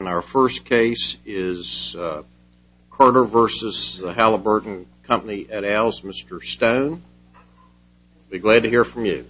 And our first case is Carter v. Halliburton Company et al's Mr. Stone. Be glad to hear from you.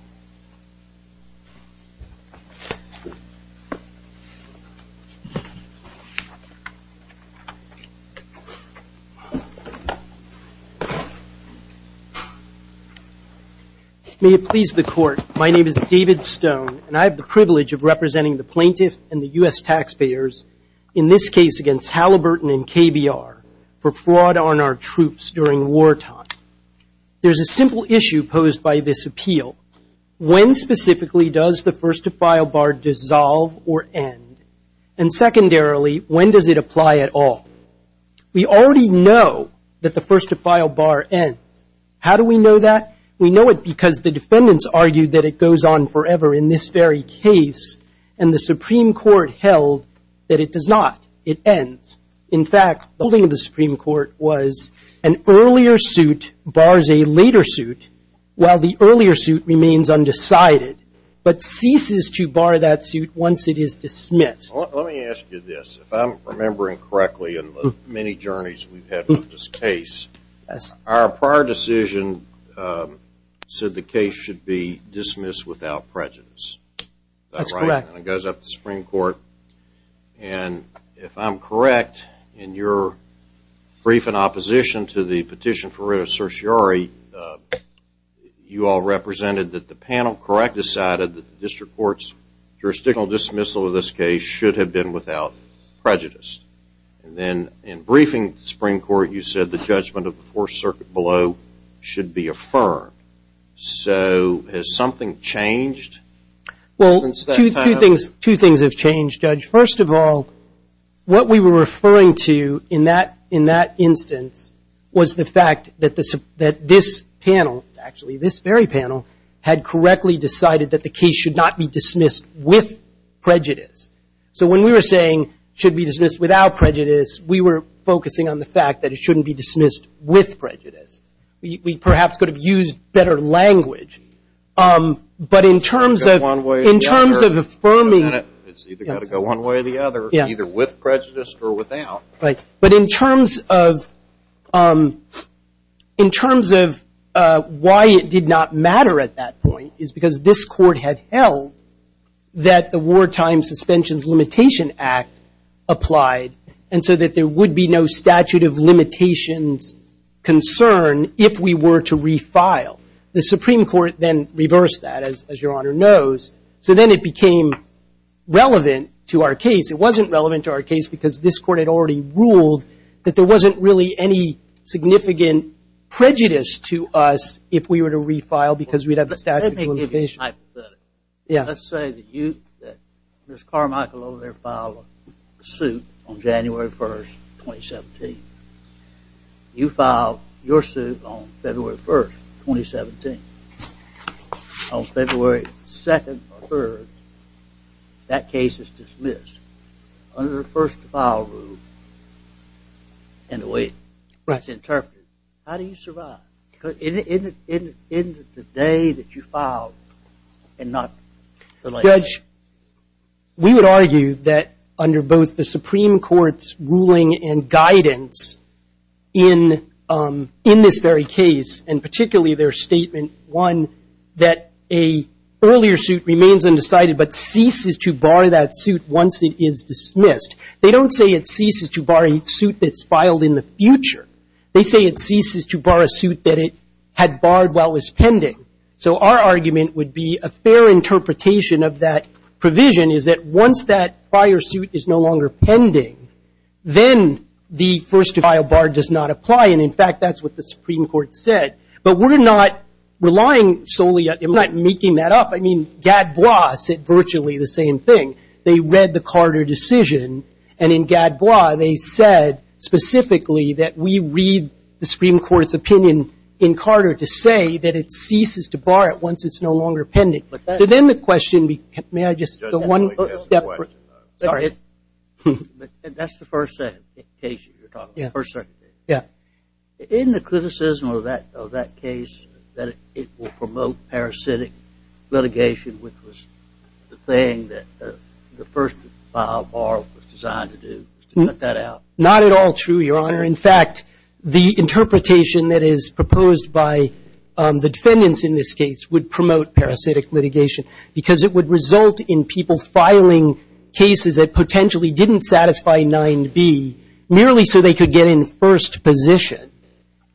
May it please the court, my name is David Stone and I have the privilege of representing the plaintiff and the U.S. taxpayers in this case against Halliburton and KBR for fraud on our troops during wartime. There's a simple issue posed by this appeal. When specifically does the first to file bar dissolve or end? And secondarily, when does it apply at all? We already know that the first to file bar ends. How do we know that? We know it because the defendants argued that it goes on forever in this very case and the Supreme Court held that it does not. It ends. In fact, the Supreme Court was an earlier suit bars a later suit while the earlier suit remains undecided but ceases to bar that suit once it is dismissed. Let me ask you this. If I'm remembering correctly in the many journeys we've had with this case, our prior decision said the case should be without prejudice. That's correct. And it goes up to the Supreme Court and if I'm correct in your brief in opposition to the petition for writ of certiorari, you all represented that the panel correct decided that the district court's jurisdictional dismissal of this case should have been without prejudice. And then in briefing the Supreme Court you said the Well, two things have changed, Judge. First of all, what we were referring to in that instance was the fact that this panel, actually this very panel, had correctly decided that the case should not be dismissed with prejudice. So when we were saying it should be dismissed without prejudice, we were focusing on the fact that it shouldn't be dismissed with prejudice. We perhaps could have used better language. But in terms of affirming It's either got to go one way or the other, either with prejudice or without. But in terms of why it did not matter at that point is because this court had held that the Wartime Suspensions Limitation Act applied and so that there would be no statute of limitations concern if we were to refile. The Supreme Court then reversed that, as your Honor knows. So then it became relevant to our case. It wasn't relevant to our case because this court had already ruled that there wasn't really any significant prejudice to us if we were to refile because we'd have the statute of limitations. Let's say that you, that Ms. Carmichael, over there filed a suit on January 1st, 2017. You filed your suit on February 1st, 2017. On February 2nd or 3rd, that case is dismissed under the first to file rule and the way it's interpreted. How do you survive? In the day that you filed and not the later? Judge, we would argue that under both the Supreme Court's ruling and guidance in this very case, and particularly their statement one, that a earlier suit remains undecided but ceases to bar that suit once it is dismissed. They don't say it ceases to bar a suit that's filed in the future. They say it ceases to bar a suit that it had barred while it was pending. So our argument would be a fair interpretation of that provision is that once that prior suit is no longer pending, then the first to file bar does not apply. And in fact, that's what the Supreme Court said. But we're not relying solely on, we're not making that up. I mean, Gadbois said virtually the same thing. They read the Carter decision and in Gadbois, they said specifically that we read the Supreme Court's opinion in Carter to say that it ceases to bar it once it's no longer pending. So then the question, may I just, the one step, sorry. That's the first case you're talking about, the first circuit case. Yeah. In the criticism of that case, that it will promote parasitic litigation, which was the thing that the first to file bar was designed to do, to cut that out. Not at all true, Your Honor. In fact, the interpretation that is proposed by the defendants in this case would promote parasitic litigation because it would result in people filing cases that potentially didn't satisfy 9b merely so they could get in first position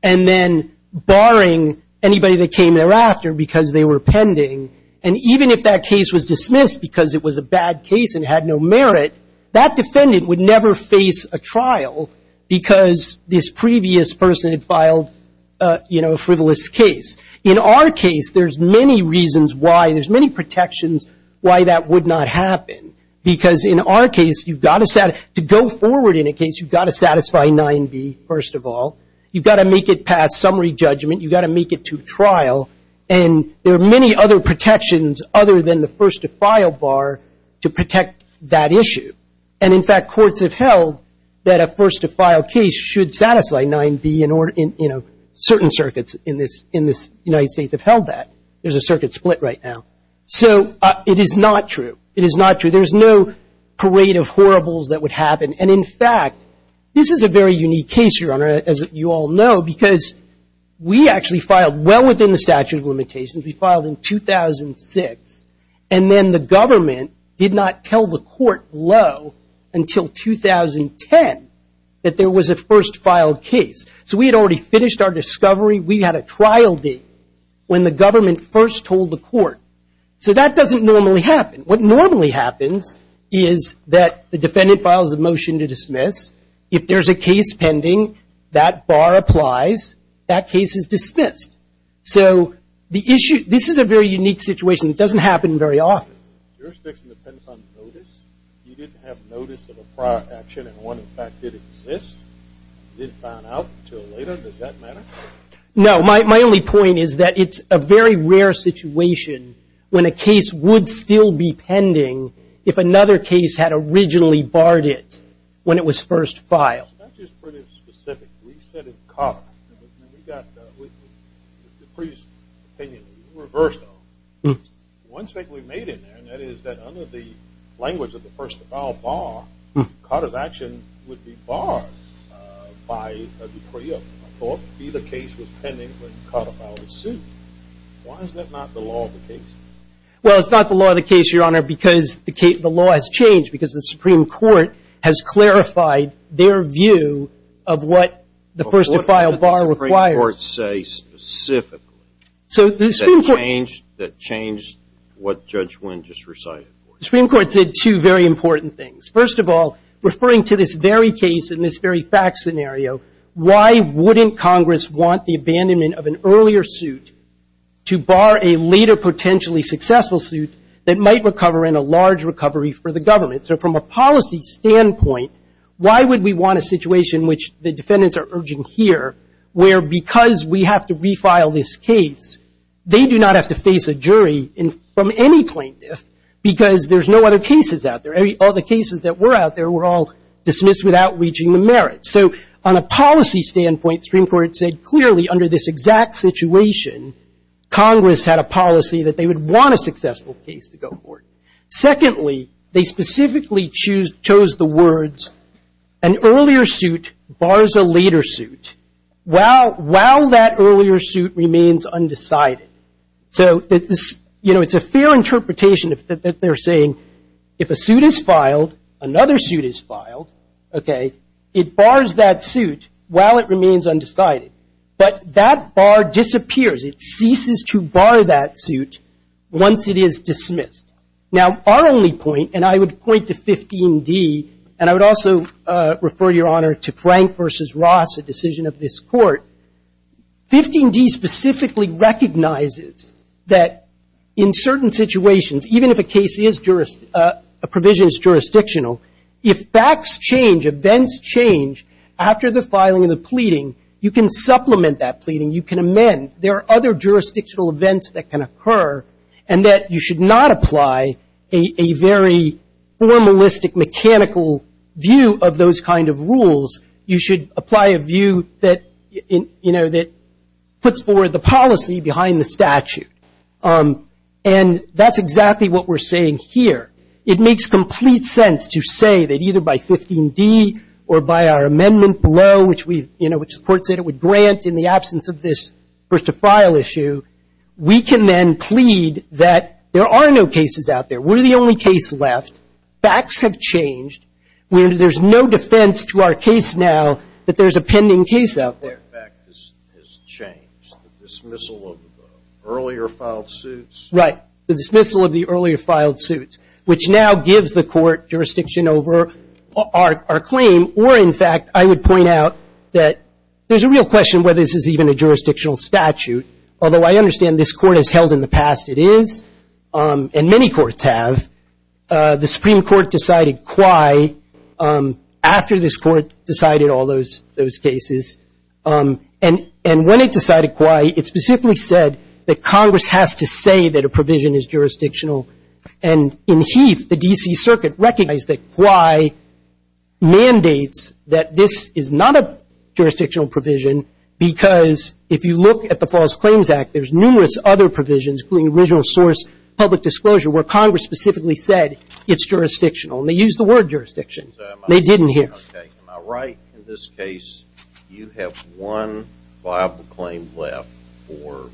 and then barring anybody that came thereafter because they were pending. And even if that case was dismissed because it was a bad case and had no merit, that defendant would never face a trial because this previous person had filed a frivolous case. In our case, there's many reasons why, there's many protections why that would not happen. Because in our case, you've got to, to go forward in a case, you've got to satisfy 9b first of all. You've got to make it past summary judgment. You've got to make it to trial. And there are many other protections other than the first to file bar to protect that issue. And in fact, courts have held that a first to file case should satisfy 9b in order, you know, certain circuits in this, in this United States have held that. There's a circuit split right now. So it is not true. It is not true. There's no parade of horribles that would happen. And in fact, this is a very unique case, Your Honor, as you all know, because we actually filed well within the statute of limitations. We filed in 2006. And then the government did not tell the court low until 2010 that there was a first filed case. So we had already finished our discovery. We had a trial date when the government first told the court. So that doesn't normally happen. What normally happens is that the defendant files a motion to dismiss. If there's a case pending, that bar applies. That case is dismissed. So the issue, this is a very unique situation. It doesn't happen very often. Your jurisdiction depends on notice? You didn't have notice of a prior action and one in fact did exist? You didn't find out until later? Does that matter? No. My only point is that it's a very rare situation when a case would still be pending if another case had originally barred it when it was first filed. That's just pretty specific. We said it's caught. We got the previous opinion reversed. One thing we made in there, and that is that under the language of the first to file bar, Carter's action would be barred by a decree of court to be the case was pending when Carter filed the suit. Why is that not the law of the case? Well, it's not the law of the case, Your Honor, because the law has changed. Because the Supreme Court has clarified their view of what the first to file bar requires. What did the Supreme Court say specifically that changed what Judge Wynn just recited? The Supreme Court said two very important things. First of all, referring to this very case and this very fact scenario, why wouldn't Congress want the abandonment of an earlier suit to bar a later potentially successful suit that might recover in a large recovery for the government? So from a policy standpoint, why would we want a situation which the defendants are urging here, where because we have to refile this case, they do not have to face a jury from any plaintiff because there's no other cases out there. All the cases that were out there were all dismissed without reaching the merits. So on a policy standpoint, Supreme Court said clearly under this exact situation, Congress had a policy that they would want a successful case to go forward. Secondly, they specifically chose the words, an earlier suit bars a later suit while that earlier suit remains undecided. So it's a fair interpretation that they're saying, if a suit is filed, another suit is filed, okay, it bars that suit while it remains undecided. But that bar disappears. It ceases to bar that suit once it is dismissed. Now, our only point, and I would point to 15D, and I would also refer, Your Honor, to Frank v. Ross, a decision of this Court. 15D specifically recognizes that in certain situations, even if a case is, a provision is jurisdictional, if facts change, events change after the filing of the pleading, you can supplement that pleading. You can amend. There are other jurisdictional events that can occur and that you should not apply a very formalistic, mechanical view of those kind of rules. You should apply a view that, you know, that puts forward the policy behind the statute. And that's exactly what we're saying here. It makes complete sense to say that either by 15D or by our amendment below, which we've, you know, which the Court said it would grant in the absence of this first-to-file issue, we can then plead that there are no cases out there. We're the only case left. Facts have changed. There's no defense to our case now that there's a pending case out there. The fact has changed. The dismissal of the earlier filed suits? Right. The dismissal of the earlier filed suits, which now gives the Court jurisdiction over our claim, or in fact, I would point out that there's a real question whether this is even a jurisdictional statute, although I understand this Court has held in the past it is, and many courts have. The Supreme Court decided quay after this Court decided all those cases. And when it decided quay, it specifically said that Congress has to say that a provision is jurisdictional. And in Heath, the D.C. Circuit recognized that quay mandates that this is not a jurisdictional provision because if you look at the False Claims Act, there's numerous other provisions, including original source, public disclosure, where Congress specifically said it's jurisdictional. And they used the word jurisdiction. They didn't here. Am I right in this case, you have one viable claim left for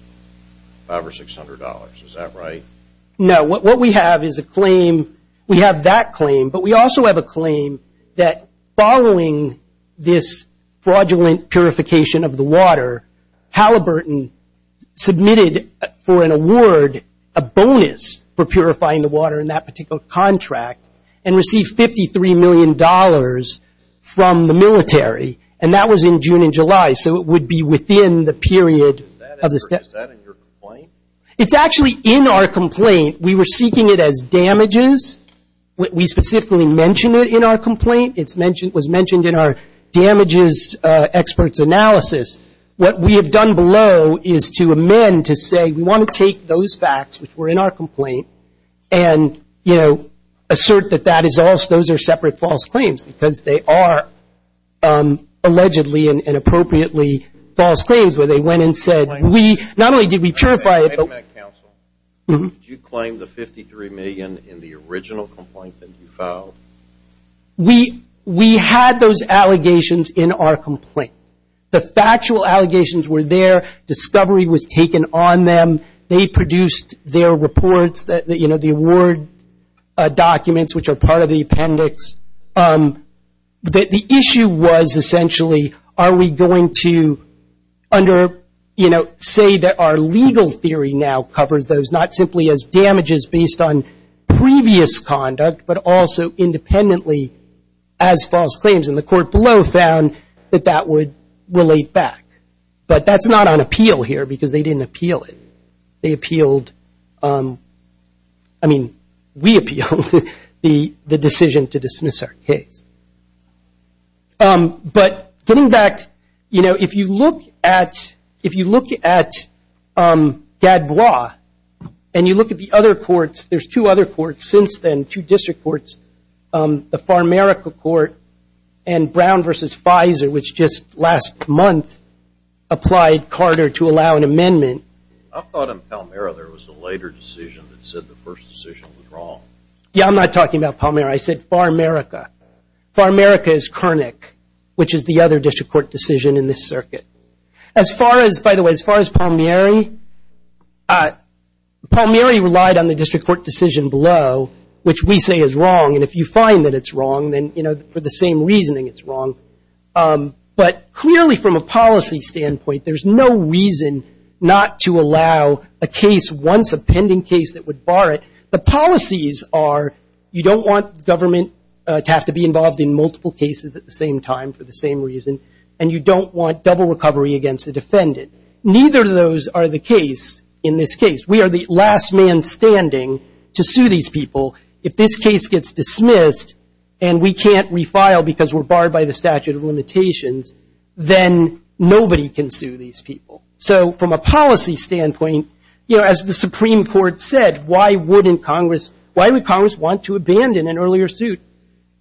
$500 or $600. Is that right? No. What we have is a claim, we have that claim, but we also have a claim that following this fraudulent purification of the water, Halliburton submitted for an award a bonus for purifying the dollars from the military. And that was in June and July. So it would be within the period of the statute. Is that in your complaint? It's actually in our complaint. We were seeking it as damages. We specifically mentioned it in our complaint. It was mentioned in our damages experts analysis. What we have done below is to amend to say we want to take those facts, which were in our complaint, and, you know, assert that those are separate false claims because they are allegedly and appropriately false claims where they went and said we, not only did we purify it. Wait a minute, counsel. Did you claim the $53 million in the original complaint that you filed? We had those allegations in our complaint. The factual allegations were there. Discovery was taken on them. They produced their reports that, you know, the award documents, which are part of the appendix. The issue was essentially are we going to under, you know, say that our legal theory now covers those, not simply as damages based on previous conduct, but also independently as false claims. And the court below found that that would relate back. But that's not on appeal here because they didn't appeal it. They appealed, I mean, we appealed the decision to dismiss our case. But getting back, you know, if you look at, if you look at Gadbois and you look at the other courts, there's two other courts since then, two district courts, the Farmerica Court and Brown versus Pfizer, which just last month applied Carter to allow an amendment. I thought in Palmyra there was a later decision that said the first decision was wrong. Yeah, I'm not talking about Palmyra. I said Farmerica. Farmerica is Kernick, which is the other district court decision in this circuit. As far as, by the way, as far as Palmyra, Palmyra relied on the district court decision below, which we say is wrong. And if you find that it's wrong, then, you know, for the same reasoning, it's wrong. But clearly from a policy standpoint, there's no reason not to allow a case, once a pending case, that would bar it. The policies are you don't want government to have to be involved in multiple cases at the same time for the same reason, and you don't want double recovery against the defendant. Neither of those are the case in this case. We are the last man standing to sue these people. If this case gets dismissed and we can't refile because we're barred by the statute of limitations, then nobody can sue these people. So from a policy standpoint, you know, as the Supreme Court said, why wouldn't Congress, why would Congress want to abandon an earlier suit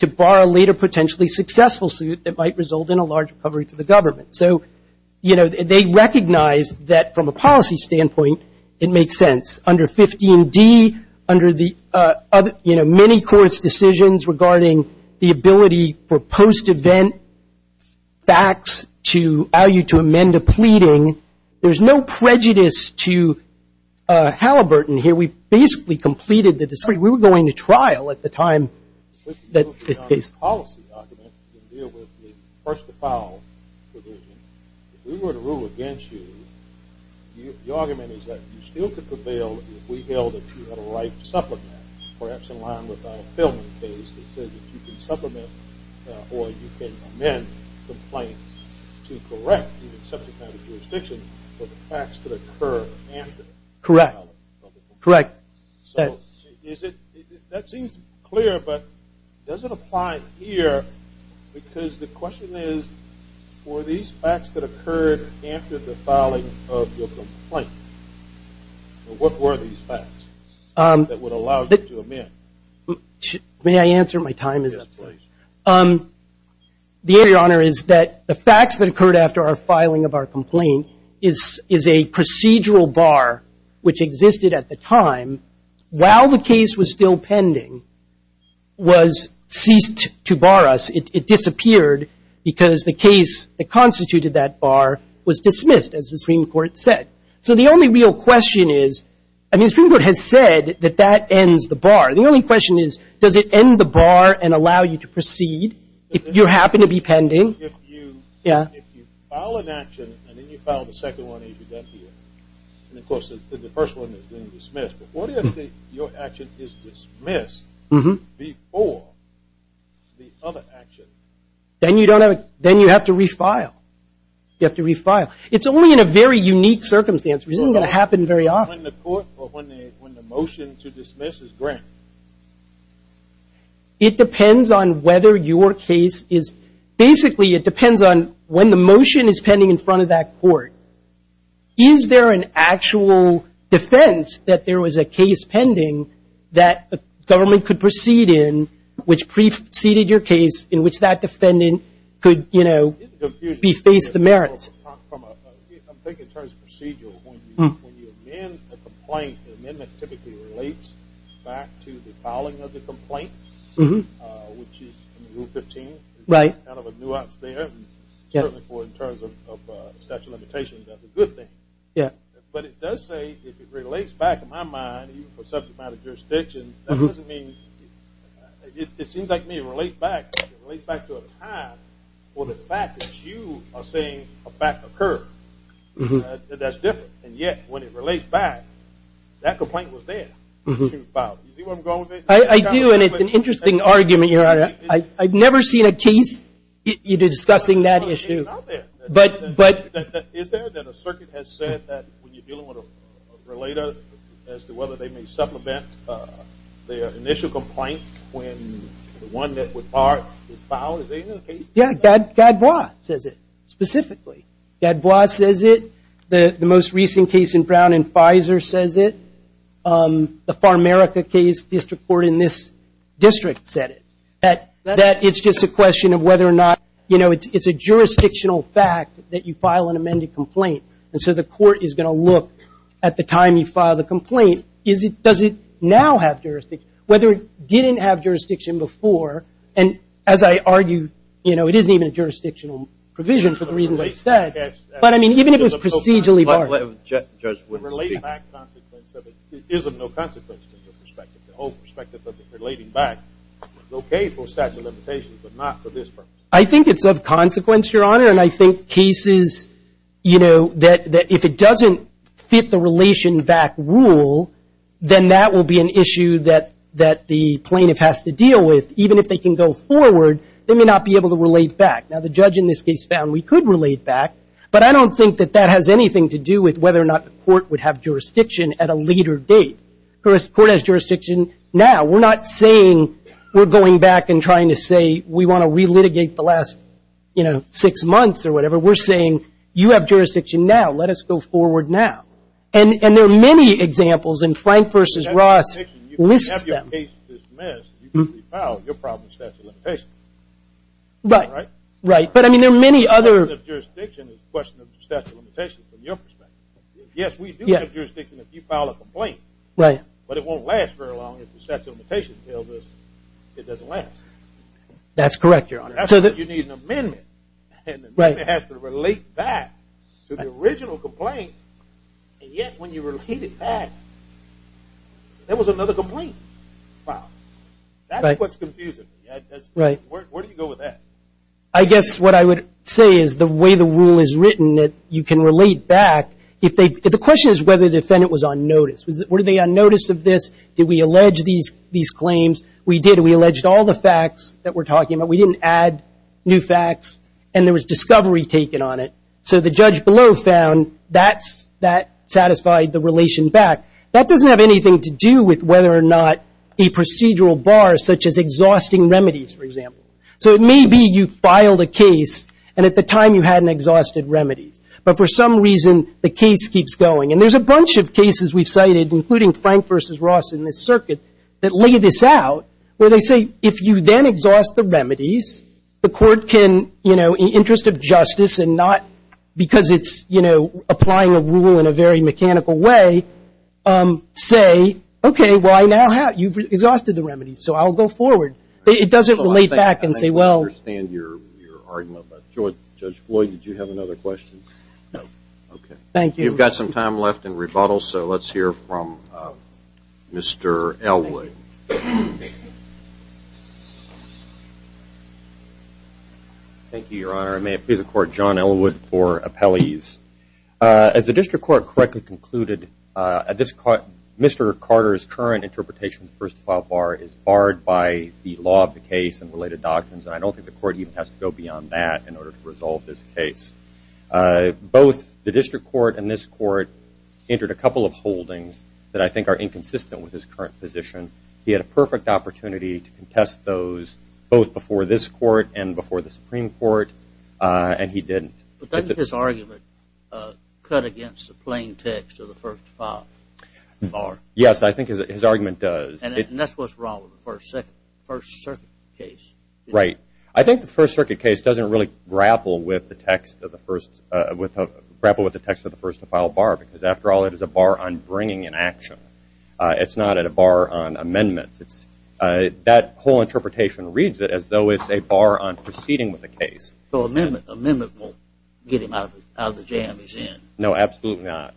to bar a later potentially successful suit that might result in a large recovery to the government? So, you know, they recognize that from a policy standpoint, it makes sense. Under 15D, under the other, you know, many courts' decisions regarding the ability for post-event facts to allow you to amend a pleading, there's no prejudice to Halliburton here. We basically completed the time that this case… Correct. Correct. So is it, that seems clear, but does it apply here because the question is, were these facts that occurred after the filing of your complaint? What were these facts that would allow you to amend? May I answer? My time is up. Yes, please. The area, Your Honor, is that the facts that occurred after our filing of our complaint is a procedural bar which existed at the time while the case was still pending was ceased to bar us. It disappeared because the case that constituted that bar was dismissed, as the Supreme Court said. So the only real question is, I mean, the Supreme Court has said that that ends the bar. The only question is, does it end the bar and allow you to proceed if you happen to be pending? If you file an action and then you file the second one as you did here, and of course the first one is being dismissed, but what if your action is dismissed before the other action? Then you have to refile. You have to refile. It's only in a very unique circumstance. This isn't going to happen very often. When the motion to dismiss is granted? It depends on whether your case is, basically, it depends on when the motion is pending in front of that court. Is there an actual defense that there was a case pending that the government could proceed in which preceded your case in which that defendant could, you know, beface the merits? I'm thinking in terms of procedural. When you amend a complaint, the amendment typically relates back to the filing of the complaint, which is in Rule 15. It's kind of a nuance there. In terms of statute of limitations, that's a good thing. But it does say, if it relates back, in my mind, even for subject matter jurisdictions, that doesn't mean, it seems like it may relate back to a time for the fact that you are saying a fact occurred. That's different. And yet, when it relates back, that complaint was there. You see where I'm going with it? I do. And it's an interesting argument, Your Honor. I've never seen a case discussing that issue. Is there that a circuit has said that when you're dealing with a relator as to whether they may supplement their initial complaint when the one that was filed is in the case? Yeah. Gadbois says it, specifically. Gadbois says it. The most recent case in Brown and Pfizer says it. The Farmerica case, district court in this district said it. That it's just a question of whether or not, you know, it's a jurisdictional fact that you file an amended complaint. And so the court is going to look at the time you file the complaint, does it now have jurisdiction? Whether it didn't have jurisdiction before, and as I argue, you know, it isn't even a jurisdictional provision for the reason that it's said. But I mean, even if it was procedurally barred. The relating back consequence of it isn't no consequence from your perspective. The whole perspective of it relating back is okay for statute of limitations, but not for this purpose. I think it's of consequence, Your Honor. And I think cases, you know, that if it doesn't fit the relation back rule, then that will be an issue that the plaintiff has to deal with. Even if they can go forward, they may not be able to relate back. Now, the judge in this case found we could relate back, but I don't think that that has anything to do with whether or not the court would have jurisdiction at a later date. The court has jurisdiction now. We're not saying we're going back and trying to say we want to re-litigate the last, you know, six months or whatever. We're saying you have jurisdiction now. Let us go forward now. And there are many examples, and Frank v. Ross lists them. If you have your case dismissed, you can refile your problem with statute of limitations. Right. Right. But I mean, there are many other... The question of jurisdiction is the question of statute of limitations from your perspective. Yes, we do have jurisdiction if you file a complaint. Right. But it won't last very long if the statute of limitations tells us it doesn't last. That's correct, Your Honor. That's why you need an amendment. And the amendment has to relate back to the original complaint, and yet when you relate it back, there was another complaint filed. That's what's confusing me. Right. Where do you go with that? I guess what I would say is the way the rule is written that you can relate back. The question is whether the defendant was on notice. Were they on notice of this? Did we allege these claims? We did. We alleged all the facts that we're talking about. We didn't add new facts, and there was discovery taken on it. So the judge below found that satisfied the relation back. That doesn't have anything to do with whether or not a procedural bar, such as exhausting remedies, for example. So it may be you filed a case, and at the time you hadn't exhausted remedies. But for some reason, the case keeps going. And there's a bunch of cases we've cited, including Frank v. Ross in this circuit, that lay this out where they say if you then exhaust the remedies, the court can, in the interest of justice and not because it's applying a rule in a very mechanical way, say, OK, well, you've exhausted the remedies, so I'll go forward. It doesn't relate back and say, well. I think I understand your argument. But Judge Floyd, did you have another question? No. OK. Thank you. We've got some time left in rebuttal, so let's hear from Mr. Elwood. Thank you, Your Honor. I may appeal to the court, John Elwood, for appellees. As the district court correctly concluded, Mr. Carter's current interpretation of the first file bar is barred by the law of the case and related doctrines. And I don't think the court even has to go beyond that in order to resolve this case. Both the district court and this court entered a couple of holdings that I think are inconsistent with his current position. He had a perfect opportunity to contest those both before this court and before the Supreme Court, and he didn't. But doesn't his argument cut against the plain text of the first file bar? Yes, I think his argument does. And that's what's wrong with the First Circuit case. Right. I think the First Circuit case doesn't really grapple with the text of the first to file bar, because after all, it is a bar on bringing an action. It's not a bar on amendments. That whole interpretation reads it as though it's a bar on proceeding with the case. So amendment won't get him out of the jam he's in. No, absolutely not.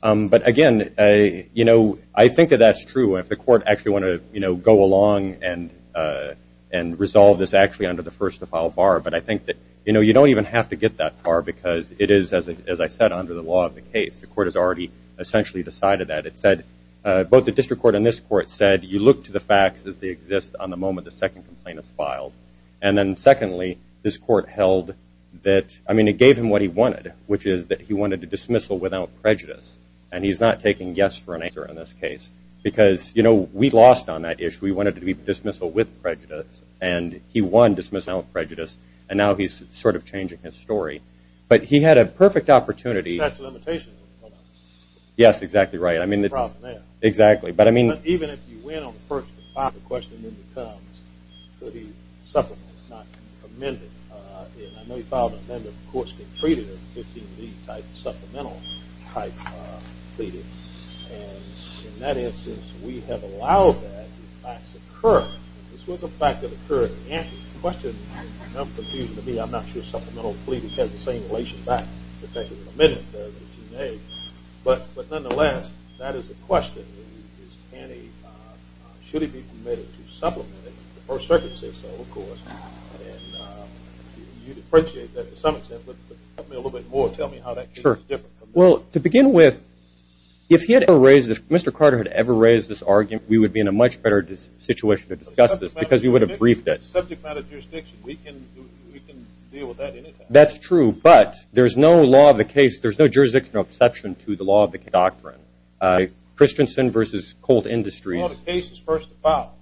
But again, I think that that's true. If the court actually want to go along and resolve this actually under the first to file bar. But I think that you don't even have to get that far, because it is, as I said, under the law of the case. The court has already essentially decided that. It said, both the district court and this court said, you look to the facts as they exist on the moment the second complaint is filed. And then secondly, this court held that, I mean, it gave him what he wanted, which is that he wanted to dismissal without prejudice. And he's not taking yes for an answer in this case, because we lost on that issue. We wanted to be dismissal with prejudice, and he won dismissal without prejudice. And now he's sort of changing his story. But he had a perfect opportunity. That's a limitation. Yes, exactly right. I mean, exactly. But I mean. Even if you win on the first to file the question, then it becomes, could he supplement it, not amend it. And I know he filed an amendment. The courts can treat it as a 15B type supplemental type plea. And in that instance, we have allowed that to in fact occur. If this was a fact that occurred in the answer to the question, it's enough confusion to me. I'm not sure supplemental plea has the same relation back to taking an amendment. But nonetheless, that is the question. Should he be permitted to supplement it? The First Circuit said so, of course. And you'd appreciate that, to some extent. But help me a little bit more. Tell me how that case is different. Well, to begin with, if he had ever raised this, Mr. Carter had ever raised this argument, we would be in a much better situation to discuss this, because we would have briefed it. Subject matter jurisdiction, we can deal with that anytime. That's true. But there's no law of the case. There's no jurisdiction or exception to the law of the doctrine. Christensen versus Colt Industries. Well, the case is first to file.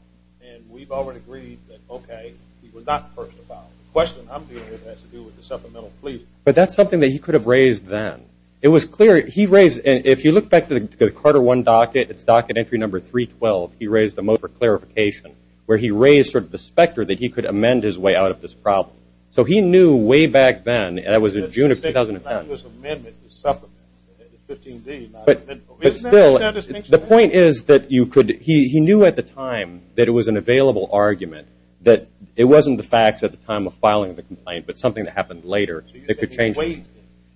And we've already agreed that, OK, he was not first to file. The question I'm dealing with has to do with the supplemental plea. But that's something that he could have raised then. It was clear. He raised, if you look back to the Carter I docket, it's docket entry number 312. He raised them over clarification, where he raised sort of the specter that he could amend his way out of this problem. So he knew way back then, and that was in June of 2010. But that's not his amendment, the supplemental, the 15D, not the amendment. But still, the point is that you could, he knew at the time that it was an available argument, that it wasn't the facts at the time of filing the complaint, but something that happened later that could change things. So you said he waited.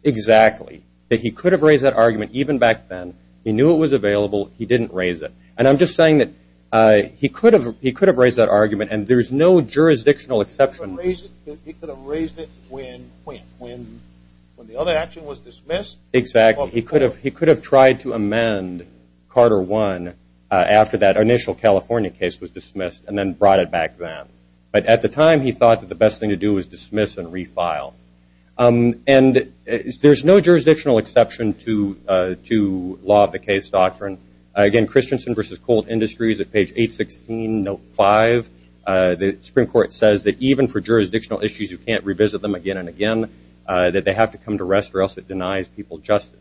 Exactly. That he could have raised that argument even back then. He knew it was available. He didn't raise it. And I'm just saying that he could have raised that argument. And there's no jurisdictional exception. He could have raised it when the other action was dismissed. Exactly. He could have tried to amend Carter I after that initial California case was dismissed and then brought it back then. But at the time, he thought that the best thing to do was dismiss and refile. And there's no jurisdictional exception to law of the case doctrine. Again, Christensen v. Colt Industries at page 816, note 5, the Supreme Court says that even for jurisdictional issues, you can't revisit them again and again, that they have to come to rest or else it denies people justice.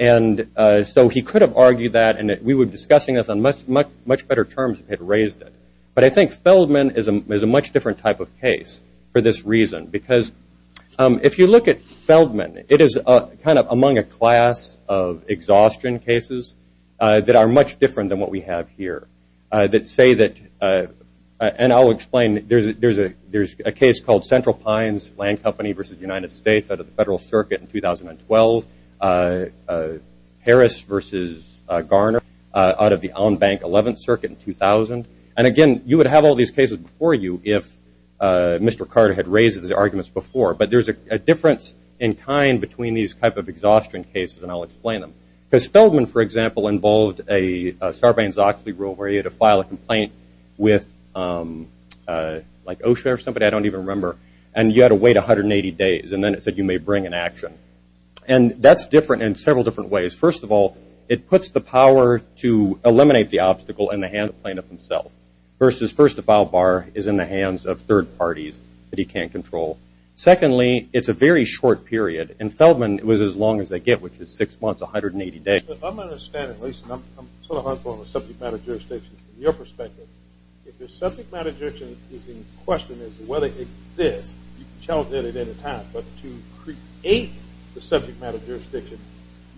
And so he could have argued that, and we were discussing this on much better terms if he had raised it. But I think Feldman is a much different type of case for this reason. Because if you look at Feldman, it is kind of among a class of exhaustion cases that are much different than what we have here that say that, and I'll explain, there's a case called Central Pines Land Company v. United States out of the Federal Circuit in 2012, Harris v. Garner out of the Allen Bank 11th Circuit in 2000. And again, you would have all these cases before you if Mr. Carter had raised these arguments before. But there's a difference in kind between these type of exhaustion cases, and I'll explain them. Because Feldman, for example, involved a Sarbanes-Oxley rule where you had to file a complaint with like OSHA or somebody, I don't even remember, and you had to wait 180 days, and then it said you may bring an action. And that's different in several different ways. First of all, it puts the power to eliminate the obstacle in the hands of the plaintiff himself. Versus first, the file bar is in the hands of third parties that he can't control. Secondly, it's a very short period, and Feldman, it was as long as they get, which is six months, 180 days. I'm understanding, Lisa, and I'm sort of hopeful of subject matter jurisdictions. From your perspective, if the subject matter jurisdiction is in question, is whether it exists, you can challenge it at any time. But to create the subject matter jurisdiction,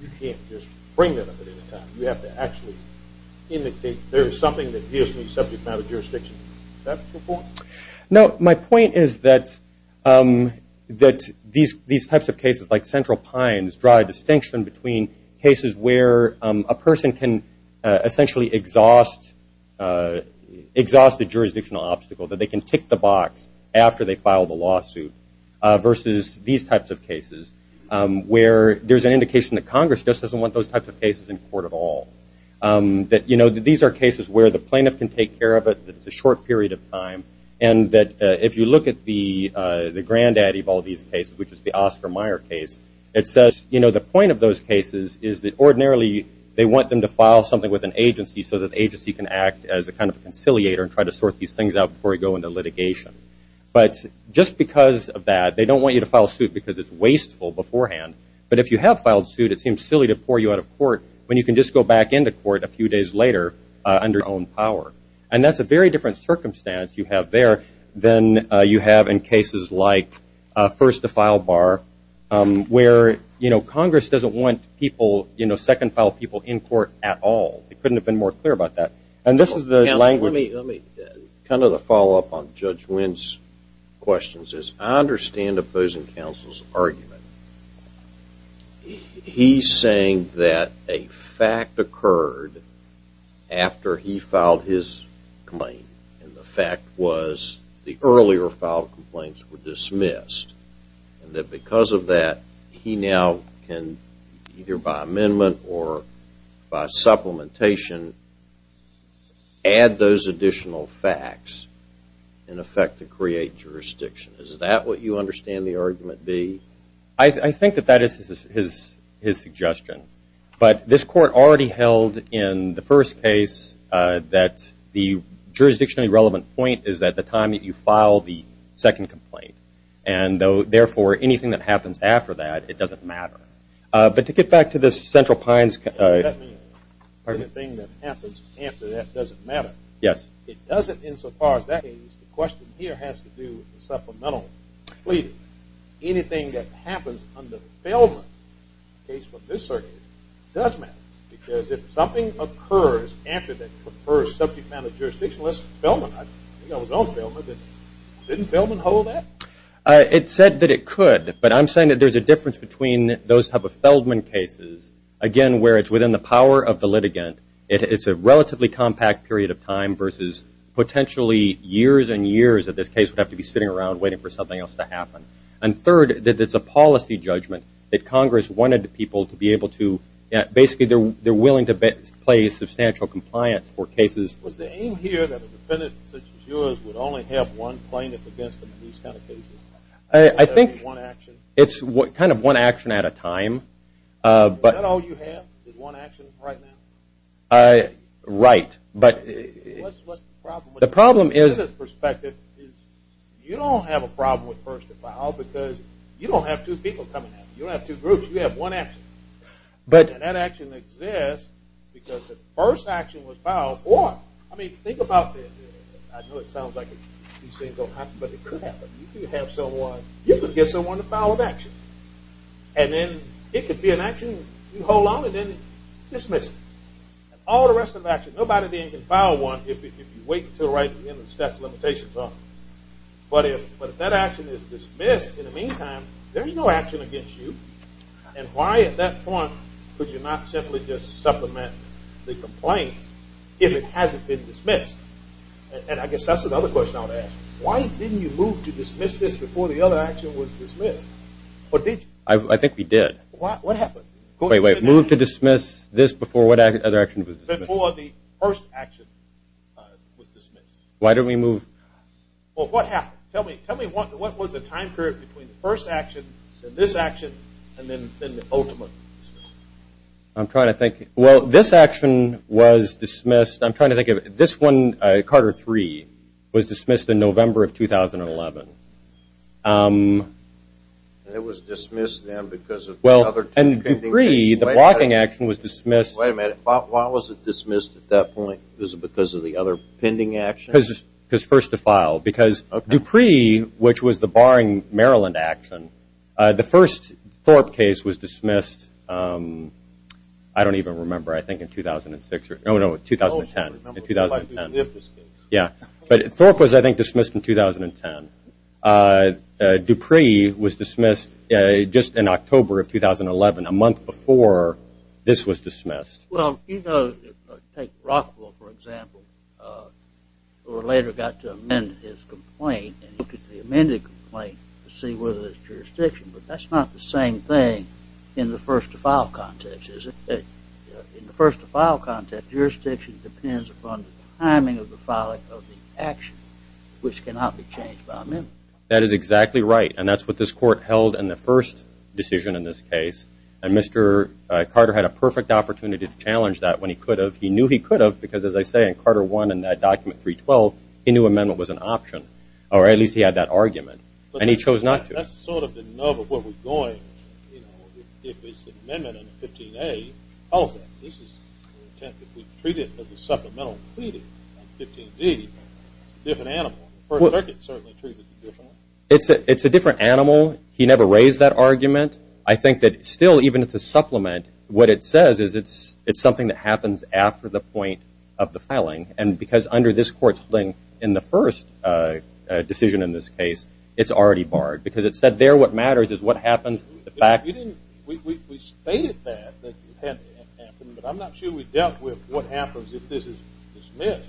you can't just bring it up at any time. You have to actually indicate there is something that gives me subject matter jurisdiction. Is that the point? No, my point is that these types of cases, like Central Pines, draw a distinction between cases where a person can essentially exhaust the jurisdictional obstacle, that they can tick the Congress doesn't want those types of cases in court at all. These are cases where the plaintiff can take care of it. It's a short period of time. And that if you look at the granddaddy of all these cases, which is the Oscar Meyer case, it says the point of those cases is that ordinarily they want them to file something with an agency so that the agency can act as a kind of conciliator and try to sort these things out before they go into litigation. But just because of that, they don't want you to file suit because it's wasteful beforehand. But if you have filed suit, it seems silly to pour you out of court when you can just go back into court a few days later under your own power. And that's a very different circumstance you have there than you have in cases like First to File Bar, where Congress doesn't want people, second file people in court at all. They couldn't have been more clear about that. This is the language. Let me kind of follow up on Judge Wynn's questions. I understand opposing counsel's argument. He's saying that a fact occurred after he filed his complaint. And the fact was the earlier filed complaints were dismissed. And that because of that, he now can either by amendment or by supplementation add those additional facts in effect to create jurisdiction. Is that what you understand the argument be? I think that that is his suggestion. But this court already held in the first case that the jurisdictionally relevant point is at the time that you file the second complaint. And therefore, anything that happens after that, it doesn't matter. But to get back to this Central Pines case. Anything that happens after that doesn't matter. Yes. It doesn't insofar as that case, the question here has to do with the supplemental. Anything that happens under Feldman, the case for this circuit, does matter. Because if something occurs after that subject matter jurisdiction, let's Feldman. Didn't Feldman hold that? It said that it could. But I'm saying that there's a difference between those type of Feldman cases. Again, where it's within the power of the litigant. It's a relatively compact period of time versus potentially years and years that this case would have to be sitting around waiting for something else to happen. And third, that it's a policy judgment that Congress wanted people to be able to basically they're willing to play substantial compliance for cases. Was the aim here that a defendant such as yours would only have one action? I think it's kind of one action at a time. Is that all you have? One action right now? Right. But the problem is, from a business perspective, you don't have a problem with first to file because you don't have two people coming in. You don't have two groups. You have one action. And that action exists because the first action was filed. Or, I mean, think about I know it sounds like these things don't happen, but it could happen. You could have someone, you could get someone to file an action. And then it could be an action you hold on and then dismiss it. And all the rest of the action, nobody then can file one if you wait until right at the end of the statute of limitations is up. But if that action is dismissed, in the meantime, there's no action against you. And why at that point could you not simply just supplement the complaint if it hasn't been dismissed? And I guess that's another question I'll ask. Why didn't you move to dismiss this before the other action was dismissed? I think we did. What happened? Wait, wait. Move to dismiss this before what other action was dismissed? Before the first action was dismissed. Why didn't we move? Well, what happened? Tell me what was the time period between the first action and this action and then the ultimate? I'm trying to think. Well, this action was dismissed. I'm trying to think of this one, Carter 3, was dismissed in November of 2011. And it was dismissed then because of the other two pending cases. And Dupree, the blocking action was dismissed. Wait a minute. Why was it dismissed at that point? Was it because of the action? The first Thorpe case was dismissed, I don't even remember, I think in 2006. No, no, 2010. Yeah. But Thorpe was, I think, dismissed in 2010. Dupree was dismissed just in October of 2011, a month before this was dismissed. Well, you know, take Rockwell, for example, who later got to amend his complaint and look at the amended complaint to see whether there's jurisdiction. But that's not the same thing in the first to file context, is it? In the first to file context, jurisdiction depends upon the timing of the filing of the action, which cannot be changed by amendment. That is exactly right. And that's what this court held in the first decision in this case. And Mr. Carter had a perfect opportunity to challenge that when he could have. He knew he in that document 312, he knew amendment was an option, or at least he had that argument. And he chose not to. That's sort of the nub of where we're going, you know, if it's an amendment in 15A, this is the intent that we treat it as a supplemental pleading on 15D. It's a different animal. He never raised that argument. I think that still, even if it's a supplement, what it because under this court's ruling in the first decision in this case, it's already barred. Because it said there what matters is what happens. We stated that it had to happen, but I'm not sure we dealt with what happens if this is dismissed.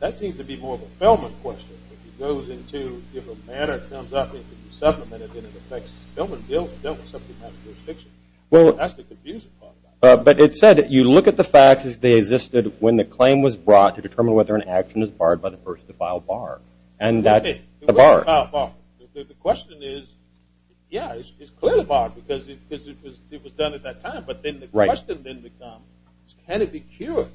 That seems to be more of a Feldman question. If it goes into, if a matter comes up, if it's supplemented, then it affects Feldman. We dealt with something that has jurisdiction. That's the confusing part. But it said that you look at the facts as they existed when the claim was brought to determine whether an action is barred by the first to file bar. And that's a bar. The question is, yeah, it's clearly barred because it was done at that time. But then the question then becomes, can it be cured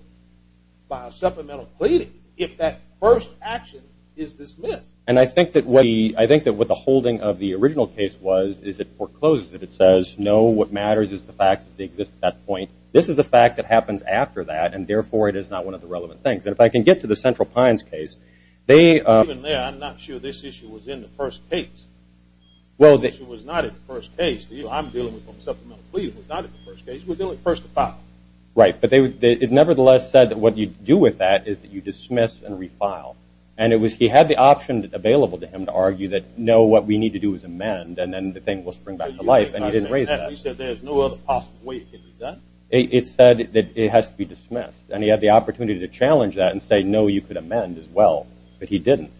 by a supplemental pleading if that first action is dismissed? And I think that what the holding of the original case was is it forecloses it. It says, no, what matters is the facts as they exist at that point. This is a fact that happens after that, and therefore, it is not one of the relevant things. And if I can get to the Central Pines case, they- Even there, I'm not sure this issue was in the first case. Well, they- This issue was not in the first case. I'm dealing with a supplemental plea. It was not in the first case. We're dealing with first to file. Right. But it nevertheless said that what you do with that is that you dismiss and refile. And he had the option available to him to argue that, no, what we need to do is amend, and then the thing will spring back to life. And he didn't raise that. He said there's no other possible way it can be done. It said that it has to be dismissed. And he had the opportunity to challenge that and say, no, you could amend as well. But he didn't.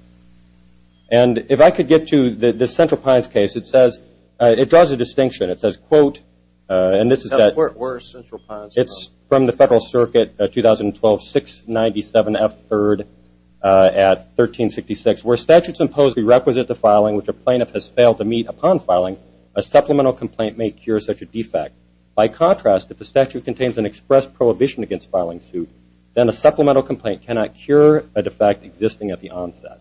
And if I could get to the Central Pines case, it says- it draws a distinction. It says, quote, and this is that- Where is Central Pines from? It's from the Federal Circuit 2012 697F3 at 1366. Where statutes impose the requisite to filing which a plaintiff has failed to meet upon filing, a supplemental complaint may cure such a defect. By contrast, if the statute contains an express prohibition against filing suit, then a supplemental complaint cannot cure a defect existing at the onset.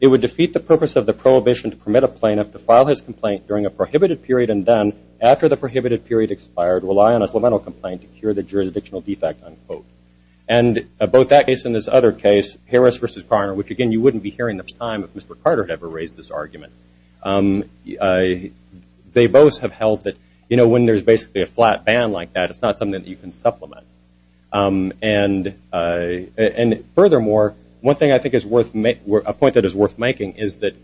It would defeat the purpose of the prohibition to permit a plaintiff to file his complaint during a prohibited period and then, after the prohibited period expired, rely on a supplemental complaint to cure the jurisdictional defect, unquote. And both that case and this other case, Harris v. Parner, which, again, you wouldn't be hearing this time if Mr. Carter had ever this argument. They both have held that when there's basically a flat ban like that, it's not something that you can supplement. And furthermore, one thing I think is worth- a point that is worth making is that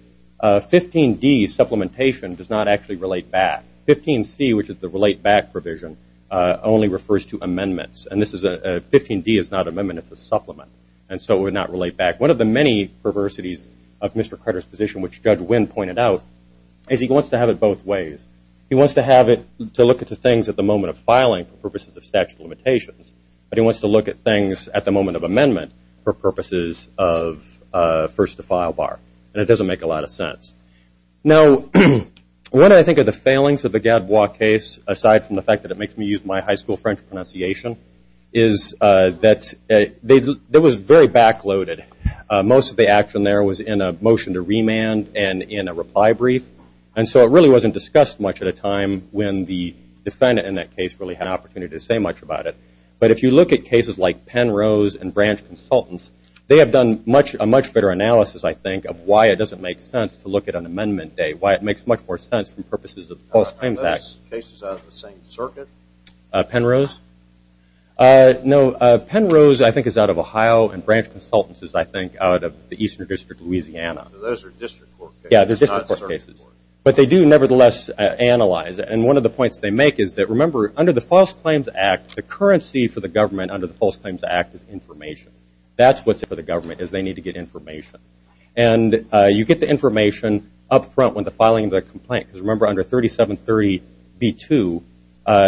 15d, supplementation, does not actually relate back. 15c, which is the relate back provision, only refers to amendments. And this is a- 15d is not amendment. It's a supplement. And so it would not relate back. One of the many perversities of Mr. Carter's position, which Judge Wynn pointed out, is he wants to have it both ways. He wants to have it to look at the things at the moment of filing for purposes of statute limitations. But he wants to look at things at the moment of amendment for purposes of first-to-file bar. And it doesn't make a lot of sense. Now, when I think of the failings of the Gadbois case, aside from the fact that it makes me use my high school French pronunciation, is that it was very back-loaded. Most of the action there was in a motion to remand and in a reply brief. And so it really wasn't discussed much at a time when the defendant in that case really had an opportunity to say much about it. But if you look at cases like Penrose and Branch Consultants, they have done a much better analysis, I think, of why it doesn't make sense to look at an amendment date, why it makes much more sense for purposes of the False Claims Act. Are those cases out of the same circuit? Penrose? No. Penrose, I think, is out of Ohio. And Branch Consultants is, I think, out of the Eastern District of Louisiana. So those are district court cases. Yeah, they're district court cases. They're not circuit court. But they do, nevertheless, analyze. And one of the points they make is that, remember, under the False Claims Act, the currency for the government under the False Claims Act is information. That's what's for the government, is they need to get information. And you get the information up front when they're filing the complaint. Because remember, under 3730b2,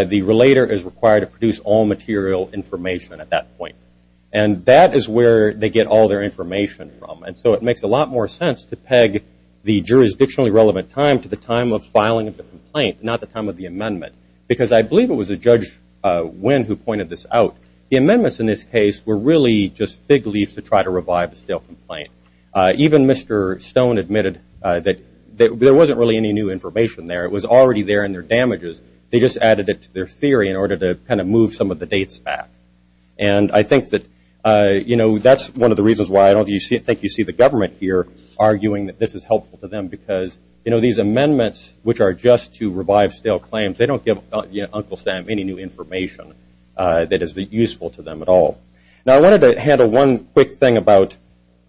the relator is required to produce all material information at that point. And that is where they get all their information from. And so it makes a lot more sense to peg the jurisdictionally relevant time to the time of filing of the complaint, not the time of the amendment. Because I believe it was a Judge Wynn who pointed this out. The amendments in this case were really just fig leaves to try to revive the stale complaint. Even Mr. Stone admitted that there wasn't really any new information there. It was already there in their damages. They just added it to their theory in order to kind of move some of the dates back. And I think that that's one of the reasons why I don't think you see the government here arguing that this is helpful to them. Because these amendments, which are just to revive stale claims, they don't give Uncle Sam any new information that is useful to them at all. Now, I wanted to handle one quick thing about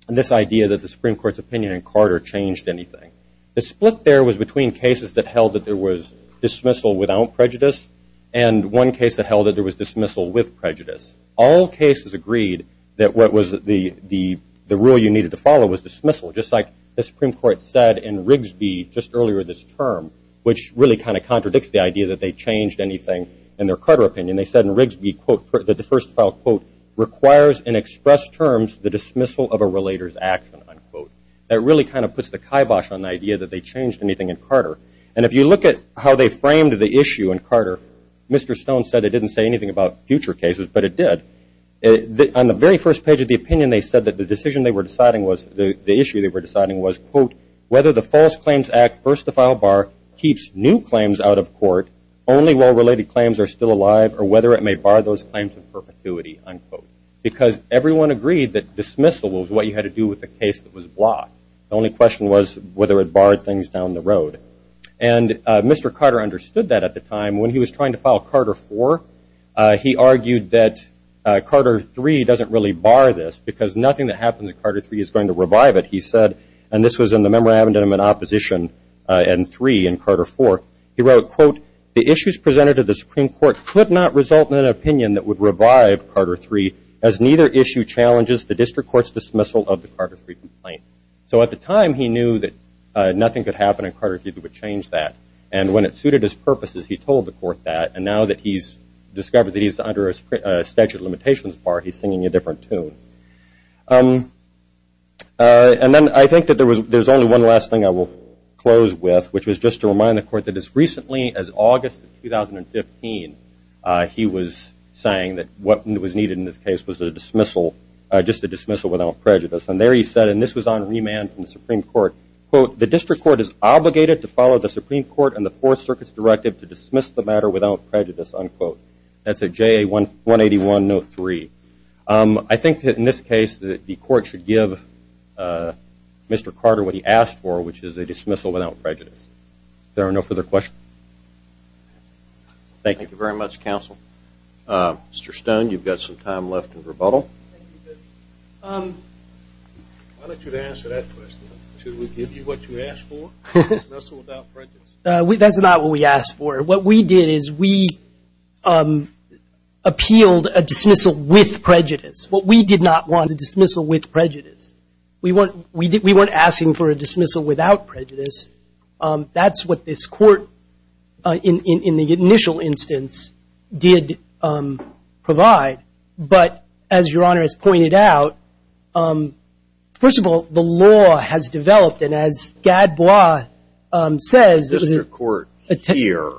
this idea that the Supreme Court's opinion in Carter changed anything. The split there was between cases that held that there was dismissal without prejudice and one case that held that was dismissal with prejudice. All cases agreed that what was the rule you needed to follow was dismissal, just like the Supreme Court said in Rigsby just earlier this term, which really kind of contradicts the idea that they changed anything in their Carter opinion. They said in Rigsby, quote, that the first file, quote, requires in expressed terms the dismissal of a relator's action, unquote. That really kind of puts the kibosh on the idea that they changed anything in Carter. And if you look at how they framed the issue in Carter, Mr. Stone said it didn't say anything about future cases, but it did. On the very first page of the opinion, they said that the decision they were deciding was, the issue they were deciding was, quote, whether the False Claims Act, first to file bar, keeps new claims out of court only while related claims are still alive or whether it may bar those claims in perpetuity, unquote. Because everyone agreed that dismissal was what you had to do with the case that was blocked. The only question was whether it barred things down the road. And Mr. Carter understood that at the time. When he was trying to file Carter IV, he argued that Carter III doesn't really bar this because nothing that happened to Carter III is going to revive it, he said. And this was in the Memorandum of Opposition and III in Carter IV. He wrote, quote, the issues presented to the Supreme Court could not result in an opinion that would revive Carter III as neither issue challenges the district court's dismissal of the Carter III complaint. So at the time, he knew that nothing could happen in Carter III that would change that. And when it suited his purposes, he told the court that. And now that he's discovered that he's under a statute of limitations bar, he's singing a different tune. And then I think that there's only one last thing I will close with, which was just to remind the court that as recently as August of 2015, he was saying that what was needed in this case was a dismissal, just a dismissal without prejudice. And there he said, and this was on remand from the Supreme Court and the Fourth Circuit's directive to dismiss the matter without prejudice, unquote. That's a JA 181-03. I think that in this case, the court should give Mr. Carter what he asked for, which is a dismissal without prejudice. There are no further questions. Thank you very much, counsel. Mr. Stone, you've got some time left in rebuttal. Why don't you answer that question? Should we give you what you asked for, a dismissal without prejudice? That's not what we asked for. What we did is we appealed a dismissal with prejudice. What we did not want was a dismissal with prejudice. We weren't asking for a dismissal without prejudice. That's what this court, in the initial instance, did provide. But as Your Honor has pointed out, first of all, the law has developed. And as Gadbois says, the court here,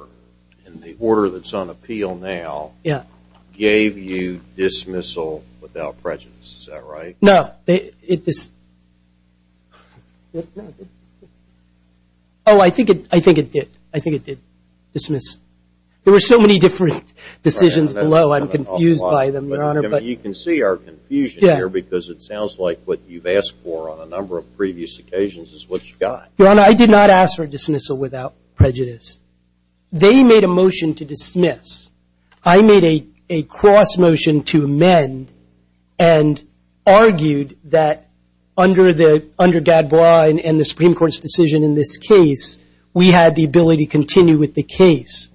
in the order that's on appeal now, gave you dismissal without prejudice. Is that right? No. Oh, I think it did. I think it did dismiss. There were so many different decisions below. I'm confused by them, Your Honor. You can see our confusion here, because it sounds like what you've asked for on a number of previous occasions is what you got. Your Honor, I did not ask for a dismissal without prejudice. They made a motion to dismiss. I made a cross motion to amend and argued that under Gadbois and the Supreme Court's decision in this case, we had the ability to continue with the case.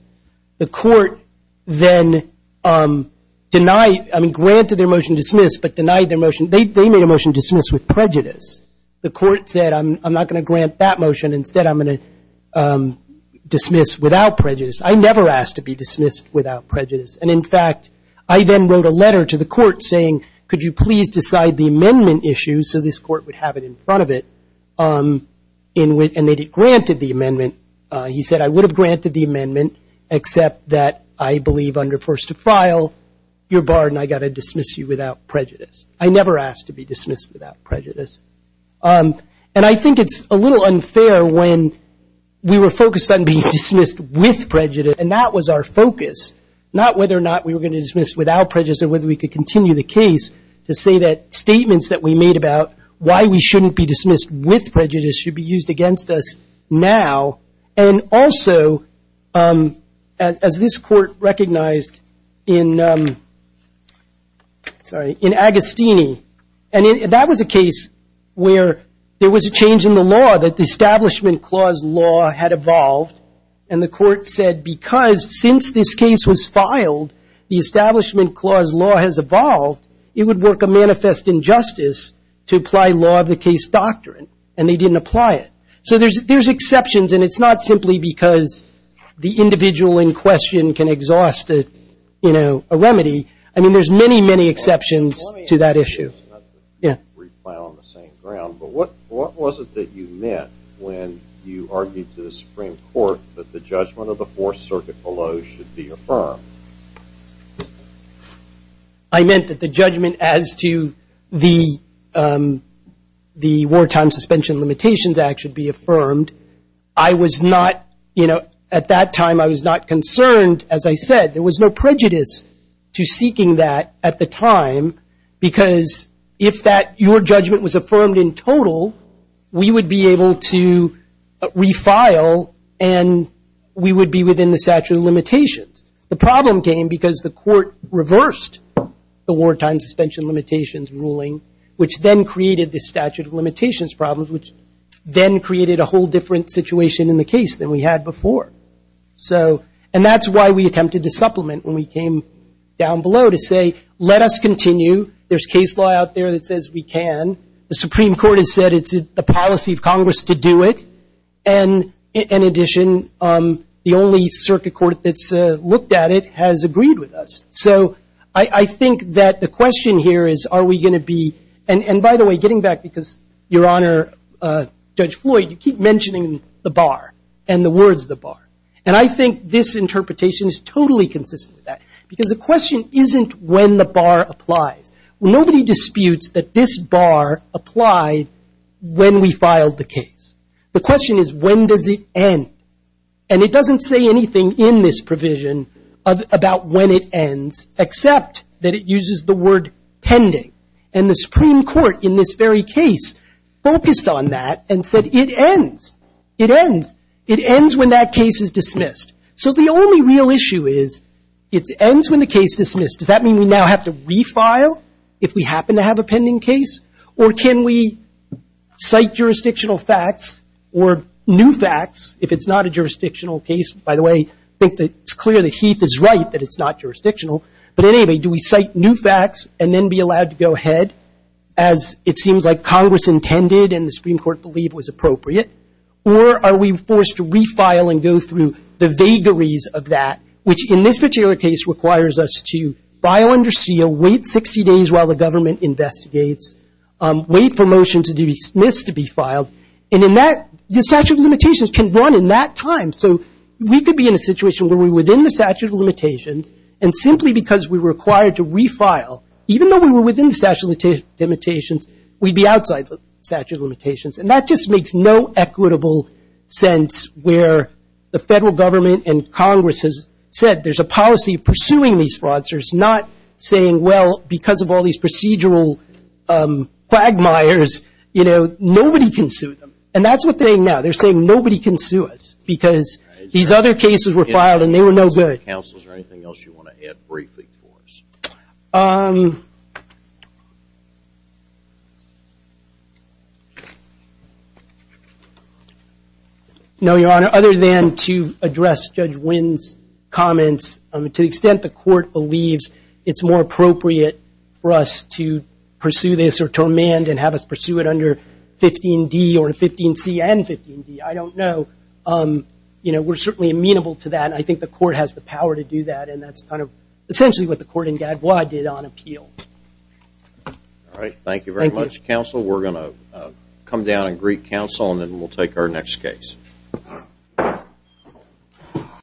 The court then granted their motion to dismiss, but denied their motion. They made a motion to dismiss with prejudice. The court said, I'm not going to grant that motion. Instead, I'm going to dismiss without prejudice. I never asked to be dismissed without prejudice. And in fact, I then wrote a letter to the court saying, could you please decide the amendment issue so this court would have it in front of it? And they granted the amendment. He said, I would have granted the amendment, except that I believe under first to file, your pardon, I got to dismiss you without prejudice. I never asked to be dismissed without prejudice. And I think it's a little unfair when we were focused on being dismissed with prejudice, and that was our focus, not whether or not we were going to dismiss without prejudice or whether we could continue the case to say that statements that we made about why we shouldn't be dismissed with prejudice should be used against us now. And also, as this court recognized in Agostini, and that was a case where there was a change in the law, that the Establishment Clause law had evolved. And the court said, because since this was filed, the Establishment Clause law has evolved, it would work a manifest injustice to apply law of the case doctrine. And they didn't apply it. So there's exceptions, and it's not simply because the individual in question can exhaust a remedy. I mean, there's many, many exceptions to that issue. Let me ask you this, not that we're on the same ground, but what was it that you meant when you argued to the Supreme Court that the judgment of the Fourth Circuit below should be affirmed? I meant that the judgment as to the Wartime Suspension Limitations Act should be affirmed. I was not, you know, at that time, I was not concerned, as I said, there was no prejudice to seeking that at the time, because if that, your judgment was affirmed in total, we would be able to refile, and we would be within the statute of limitations. The problem came because the court reversed the Wartime Suspension Limitations ruling, which then created this statute of limitations problem, which then created a whole different situation in the case than we had before. So, and that's why we attempted to supplement when we came down below to say, let us continue. There's case law out there that says we can. The Supreme Court has said it's the policy of Congress to do it, and in addition, the only circuit court that's looked at it has agreed with us. So, I think that the question here is, are we going to be, and by the way, getting back because, your Honor, Judge Floyd, you keep mentioning the bar, and the words the bar, and I think this interpretation is totally consistent with that, because the question isn't when the bar applies. Nobody disputes that this bar applied when we filed the case. The question is when does it end, and it doesn't say anything in this provision about when it ends, except that it uses the word pending, and the Supreme Court, in this very case, focused on that and said it ends. It ends. It ends when that case is dismissed. So, the only real issue is, it ends when the case is dismissed. Does that mean we now have to refile if we happen to have a pending case, or can we cite jurisdictional facts or new facts if it's not a jurisdictional case? By the way, I think it's clear that Heath is right that it's not jurisdictional, but anyway, do we cite new facts and then be allowed to go ahead as it seems like Congress intended and the Supreme Court believed was appropriate, or are we forced to refile and go through the vagaries of that, which, in this particular case, requires us to file under seal, wait 60 days while the government investigates, wait for motion to be dismissed to be filed, and in that, the statute of limitations can run in that time, so we could be in a situation where we're within the statute of limitations, and simply because we were required to refile, even though we were within the statute of limitations, we'd be outside the statute of limitations, and that just makes no equitable sense where the federal government and Congress has said there's a policy of pursuing these fraudsters, not saying, well, because of all these procedural quagmires, nobody can sue them, and that's what they're saying now. They're saying nobody can sue us because these other cases were filed and they were no good. Counsel, is there anything else you want to add briefly for us? No, Your Honor. Other than to address Judge Wynn's comments, to the extent the court believes it's more appropriate for us to pursue this or to amend and have us pursue it under 15D or 15C and 15D, I don't know. We're certainly amenable to that, I think the court has the power to do that, and that's essentially what the court in Gadbois did on appeal. All right. Thank you very much, counsel. We're going to come down and greet counsel and then we'll take our next case.